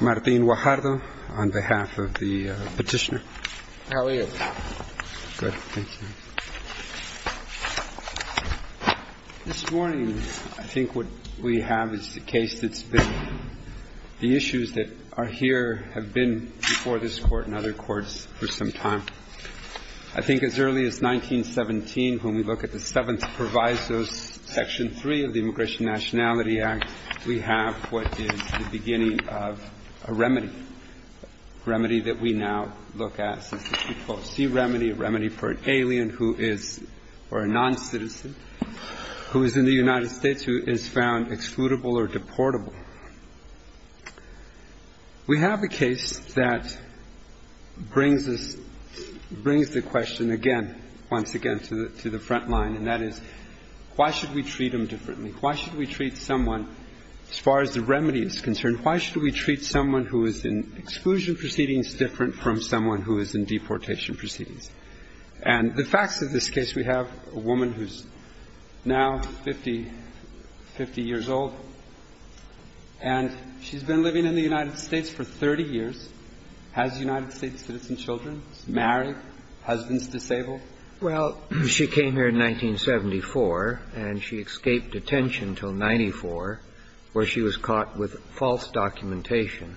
Martín Guajardo v. The Immigration and National Security Commission This morning I think what we have is the case that's been, the issues that are here have been before this court and other courts for some time. I think as early as 1917 when we passed the Nationality Act, we have what is the beginning of a remedy. A remedy that we now look at. It's what we call a sea remedy, a remedy for an alien who is, or a non-citizen, who is in the United States who is found excludable or deportable. We have a case that brings us, brings the question again, once again, to the, to the question of why should we treat someone, as far as the remedy is concerned, why should we treat someone who is in exclusion proceedings different from someone who is in deportation proceedings. And the facts of this case, we have a woman who's now 50, 50 years old, and she's been living in the United States for 30 years, has United States citizen children, married, husband's disabled. Well, she came here in 1974, and she escaped detention until 94, where she was caught with false documentation.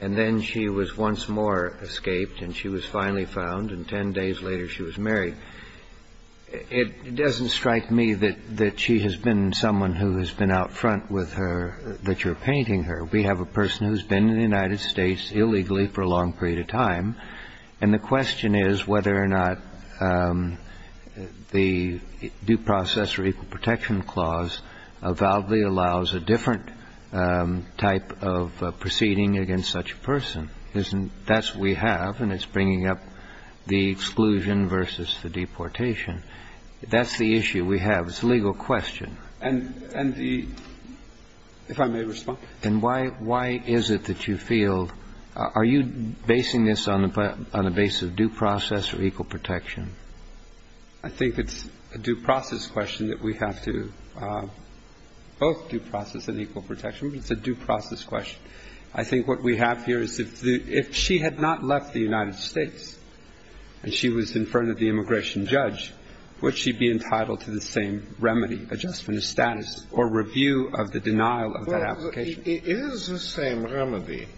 And then she was once more escaped, and she was finally found, and 10 days later she was married. It doesn't strike me that she has been someone who has been out front with her, that you're painting her. We have a person who's been in the United States illegally for a long period of time, and the question is whether or not the due process or equal protection clause validly allows a different type of proceeding against such a person. Isn't, that's what we have, and it's bringing up the exclusion versus the deportation. That's the issue we have. It's a legal question. And, and the, if I may respond. And why, why is it that you feel, are you basing this on a, on a base of due process or equal protection? I think it's a due process question that we have to, both due process and equal protection, but it's a due process question. I think what we have here is if the, if she had not left the United States, and she was in front of the immigration judge, would she be entitled to the same remedy, adjustment of status, or review of the denial of that application? It is the same remedy.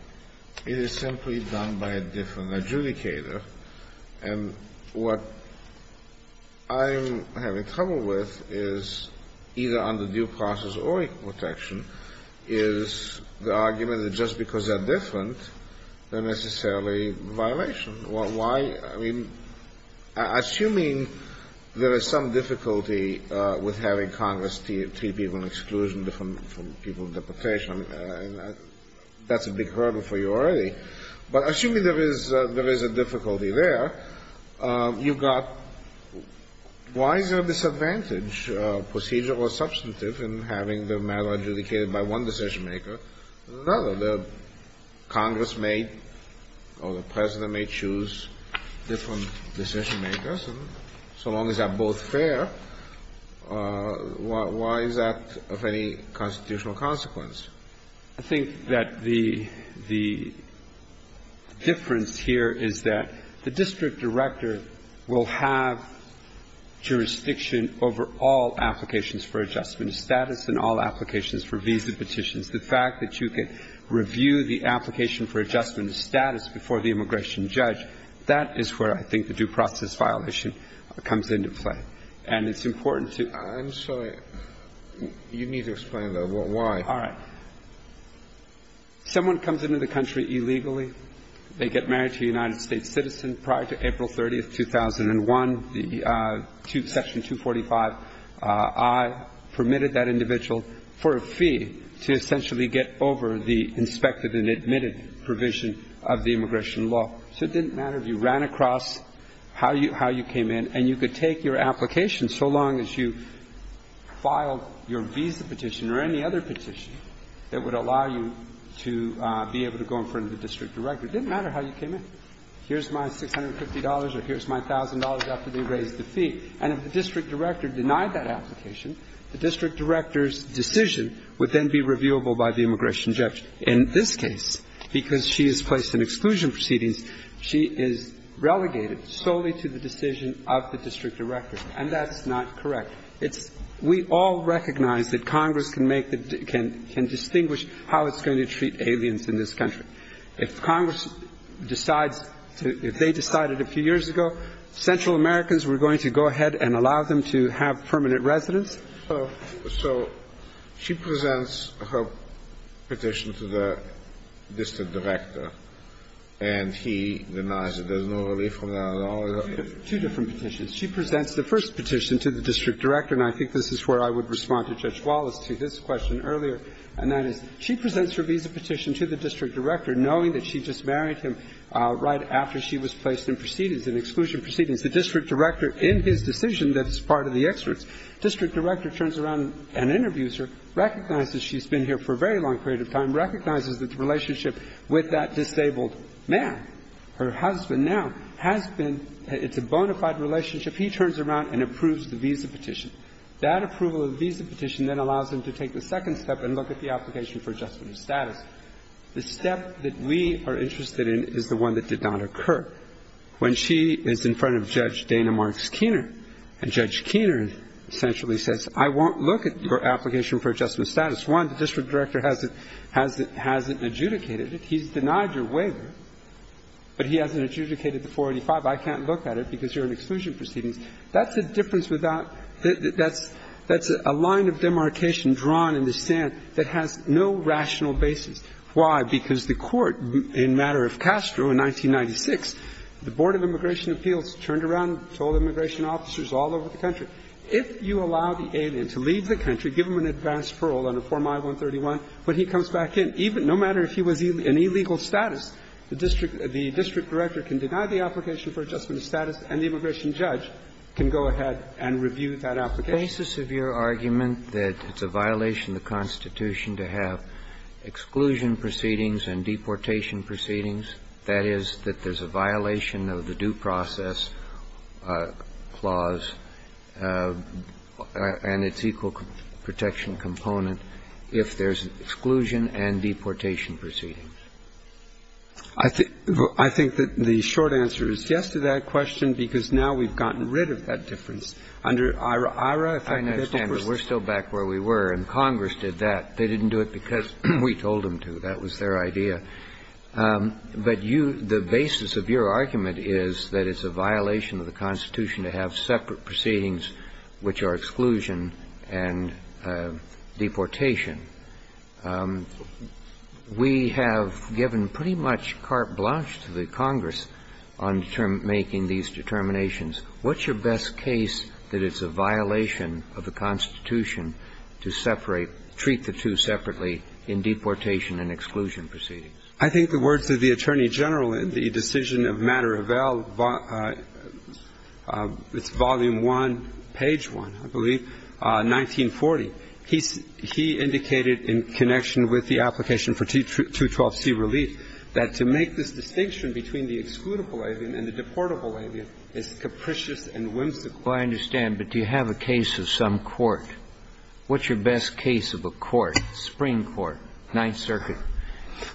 It is simply done by a different adjudicator. And what I'm having trouble with is, either under due process or equal protection, is the argument that just because they're different, they're necessarily a violation. Why, I mean, assuming there is some difficulty with having Congress treat people in exclusion from different, from people of deportation, I mean, that's a big hurdle for you already. But assuming there is, there is a difficulty there, you've got, why is there a disadvantage, procedural or substantive, in having the matter adjudicated by one decision maker and another? The Congress may, or the President may choose different decision makers, and so long as they are both fair, why is that of any constitutional consequence? I think that the, the difference here is that the district director will have jurisdiction over all applications for adjustment of status and all applications for visa petitions. The fact that you can review the application for adjustment of status before the immigration judge, that is where I think the due process violation comes into play. And it's important to – I'm sorry. You need to explain, though, why. All right. Someone comes into the country illegally. They get married to a United States citizen. Prior to April 30, 2001, the Section 245I permitted that individual for a fee to essentially get over the inspected and admitted provision of the immigration law. So it didn't matter if you ran across how you, how you came in, and you could take your application so long as you filed your visa petition or any other petition that would allow you to be able to go in front of the district director. It didn't matter how you came in. Here's my $650, or here's my $1,000 after they raised the fee. And if the district director denied that application, the district director's decision would then be reviewable by the immigration judge. In this case, because she is placed in exclusion proceedings, she is relegated solely to the decision of the district director. And that's not correct. It's – we all recognize that Congress can make the – can distinguish how it's going to treat aliens in this country. If Congress decides to – if they decided a few years ago, Central Americans were going to go ahead and allow them to have permanent residence. So she presents her petition to the district director, and he denies it. There's no relief from that at all? Two different petitions. She presents the first petition to the district director, and I think this is where I would respond to Judge Wallace to his question earlier, and that is she presents her visa petition to the district director, knowing that she just married him right after she was placed in proceedings, in exclusion proceedings. The district director, in his decision that's part of the experts, district director turns around and interviews her, recognizes she's been here for a very long period of time, recognizes that the relationship with that disabled man, her husband now, has been – it's a bona fide relationship. He turns around and approves the visa petition. That approval of the visa petition then allows him to take the second step and look at the application for adjustment of status. The step that we are interested in is the one that did not occur. When she is in front of Judge Dana Marks Keener, and Judge Keener essentially says, I won't look at your application for adjustment of status, one, the district director hasn't adjudicated it, he's denied your waiver, but he hasn't adjudicated the 485, I can't look at it because you're in exclusion proceedings, that's a difference without – that's a line of demarcation drawn in the sand that has no rational basis. Why? Because the Court in matter of Castro in 1996, the Board of Immigration to allow the alien to leave the country, give him an advance parole on a Form I-131, when he comes back in, no matter if he was in illegal status, the district director can deny the application for adjustment of status and the immigration judge can go ahead and review that application. Kennedy. The basis of your argument that it's a violation of the Constitution to have exclusion proceedings and deportation proceedings, that is, that there's a violation of the Due Process Clause and its equal protection component if there's exclusion and deportation proceedings? I think that the short answer is yes to that question, because now we've gotten rid of that difference under IRA. IRA, if I could get to the first point. I understand, but we're still back where we were, and Congress did that. They didn't do it because we told them to. That was their idea. But you – the basis of your argument is that it's a violation of the Constitution to have separate proceedings which are exclusion and deportation. We have given pretty much carte blanche to the Congress on making these determinations. What's your best case that it's a violation of the Constitution to separate treat the two separately in deportation and exclusion proceedings? I think the words of the Attorney General in the decision of Matter of Val, it's volume 1, page 1, I believe, 1940, he indicated in connection with the application for 212C relief that to make this distinction between the excludable alien and the deportable alien is capricious and whimsical. Well, I understand. But do you have a case of some court? What's your best case of a court, spring court, Ninth Circuit?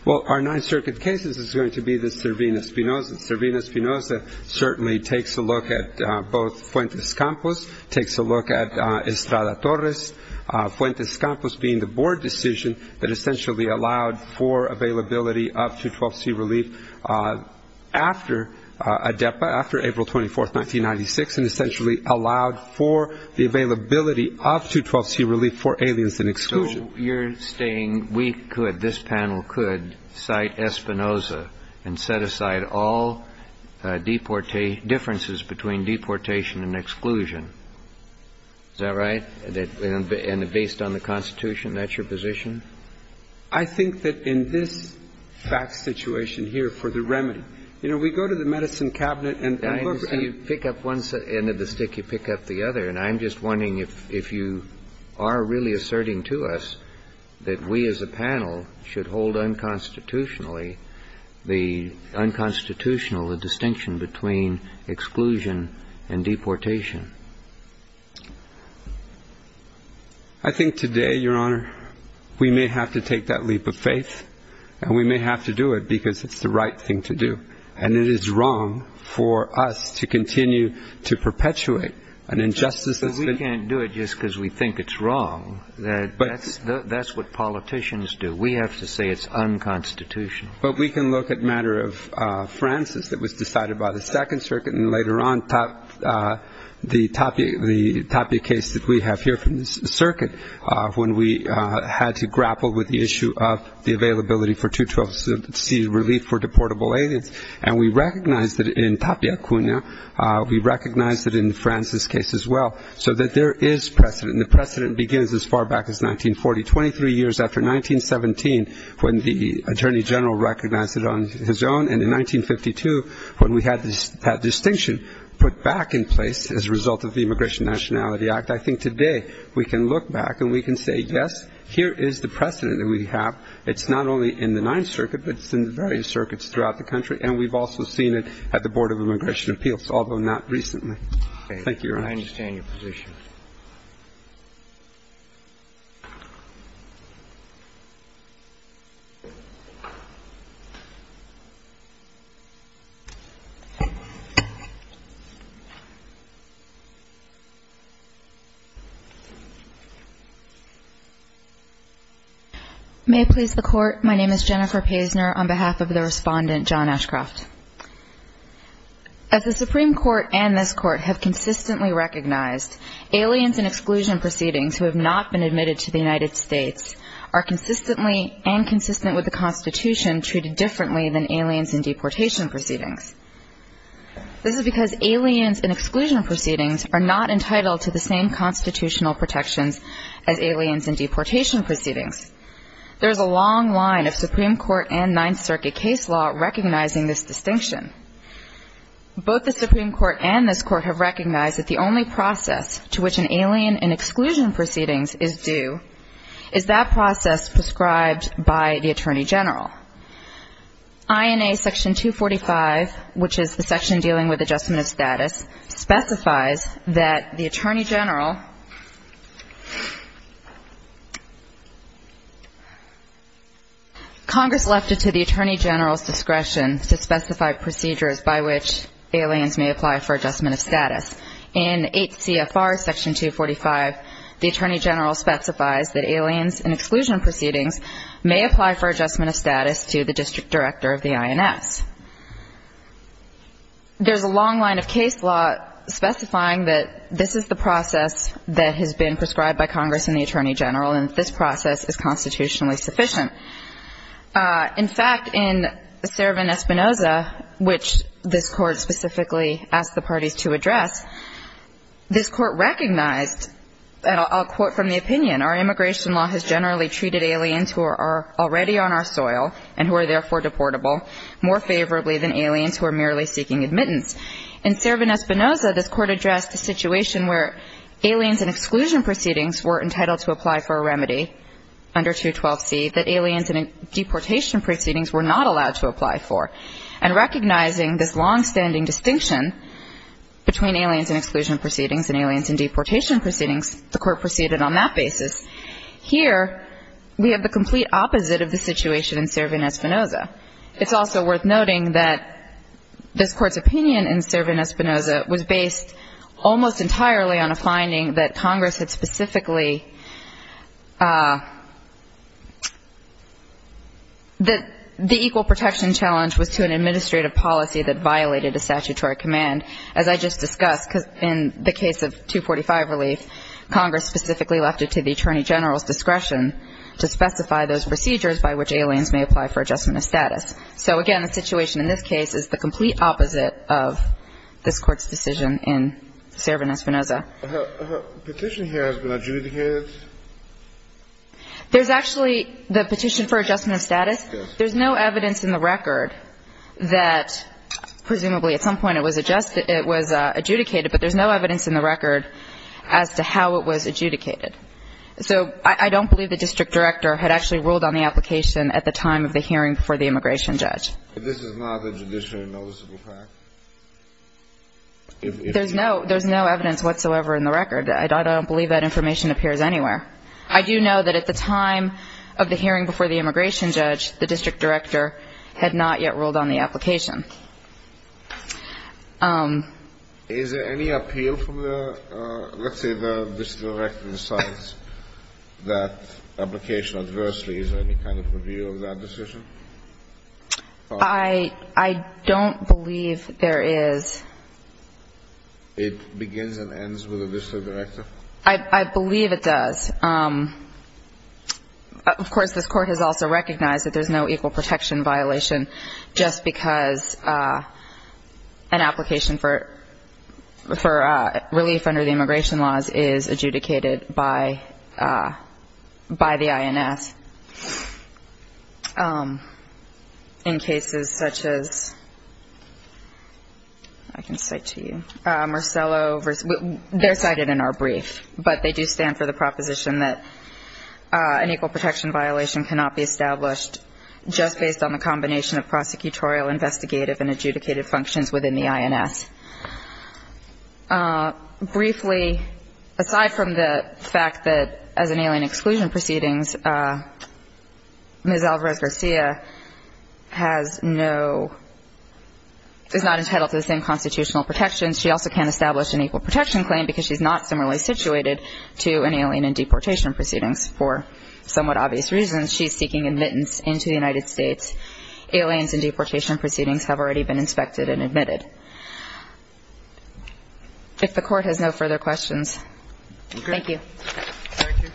Well, our Ninth Circuit case is going to be the Servina-Spinoza. Servina-Spinoza certainly takes a look at both Fuentes Campos, takes a look at Estrada Torres. Fuentes Campos being the board decision that essentially allowed for availability up to 212C relief after ADEPA, after April 24th, 1996, and essentially allowed for the availability of 212C relief for aliens and exclusion. So you're saying we could, this panel could, cite Espinoza and set aside all differences between deportation and exclusion. Is that right? And based on the Constitution, that's your position? I think that in this fact situation here for the remedy, you know, we go to the medicine cabinet and look at... I understand you pick up one end of the stick, you pick up the other. And I'm just wondering if you are really asserting to us that we as a panel should hold unconstitutionally the unconstitutional, the distinction between exclusion and deportation. I think today, Your Honor, we may have to take that leap of faith, and we may have to do it because it's the right thing to do. And it is wrong for us to continue to perpetuate an injustice that's been... But we can't do it just because we think it's wrong. That's what politicians do. We have to say it's unconstitutional. But we can look at the matter of Francis that was decided by the Second Circuit, and later on the Tapia case that we have here from the Circuit, when we had to grapple with the issue of the availability for 212C relief for deportable aliens. And we recognize that in Tapia Cunha, we recognize that in Francis' case as well, so that there is precedent. And the precedent begins as far back as 1940, 23 years after 1917, when the Attorney General recognized it on his own, and in 1952, when we had that distinction put back in place as a result of the Immigration Nationality Act. I think today, we can look back and we can say, yes, here is the precedent that we have. It's not only in the Ninth Circuit, but it's in various circuits throughout the country. And we've also seen it at the Board of Immigration Appeals, although not recently. Thank you, Your Honor. I understand your position. May I please the Court? My name is Jennifer Paisner on behalf of the Respondent, John Ashcroft. As the Supreme Court and this Court have consistently recognized, aliens in exclusion proceedings who have not been admitted to the United States are consistently and consistent with the Constitution treated differently than aliens in deportation proceedings. This is because aliens in exclusion proceedings are not entitled to the same constitutional protections as aliens in deportation proceedings. There is a long line of Supreme Court and Ninth Circuit case law recognizing this distinction. Both the Supreme Court and this Court have recognized that the only process to which an alien in exclusion proceedings is due is that process prescribed by the Attorney General. INA Section 245, which is the section dealing with adjustment of status, specifies that the Attorney General, Congress left it to the Attorney General's discretion to specify procedures by which aliens may apply for adjustment of status. In 8 CFR Section 245, the Attorney General specifies that aliens in exclusion proceedings may apply for adjustment of status to the District Director of the INS. There's a long line of case law specifying that this is the process that has been prescribed by Congress and the Attorney General and that this process is constitutionally sufficient. In fact, in Sereven Espinoza, which this Court specifically asked the parties to address, this Court recognized, and I'll quote from the opinion, our immigration law has generally treated aliens who are already on our soil deportable more favorably than aliens who are merely seeking admittance. In Sereven Espinoza, this Court addressed the situation where aliens in exclusion proceedings were entitled to apply for a remedy under 212C that aliens in deportation proceedings were not allowed to apply for. And recognizing this longstanding distinction between aliens in exclusion proceedings and aliens in deportation proceedings, the Court proceeded on that basis. Here, we have the complete opposite of the situation in Sereven Espinoza. It's also worth noting that this Court's opinion in Sereven Espinoza was based almost entirely on a finding that Congress had specifically that the equal protection challenge was to an administrative policy that violated a statutory command, as I just discussed. In the case of 245 relief, Congress specifically left it to the Attorney General's discretion to specify those procedures by which aliens may apply for adjustment of status. So, again, the situation in this case is the complete opposite of this Court's decision in Sereven Espinoza. The petition here has been adjudicated? There's actually the petition for adjustment of status. There's no evidence in the record that presumably at some point it was adjudicated but there's no evidence in the record as to how it was adjudicated. So I don't believe the district director had actually ruled on the application at the time of the hearing before the immigration judge. But this is not a judicially noticeable fact? There's no evidence whatsoever in the record. I don't believe that information appears anywhere. I do know that at the time of the hearing before the immigration judge, the district director had not yet ruled on the application. Is there any appeal from the, let's say the district director decides that application adversely? Is there any kind of review of that decision? I don't believe there is. It begins and ends with the district director? I believe it does. Of course, this Court has also recognized that there's no equal protection violation just because an application for relief under the immigration laws is adjudicated by the INS. In cases such as, I can cite to you, Marcello versus, they're cited in our brief, but they do stand for the proposition that an equal protection violation cannot be violated from a combination of prosecutorial, investigative, and adjudicated functions within the INS. Briefly, aside from the fact that as an alien exclusion proceedings, Ms. Alvarez-Garcia has no, is not entitled to the same constitutional protections, she also can't establish an equal protection claim because she's not similarly situated to an alien exclusion and deportation proceedings. For somewhat obvious reasons, she's seeking admittance into the United States. Aliens and deportation proceedings have already been inspected and admitted. If the Court has no further questions, thank you. Thank you. Thank you. Thank you.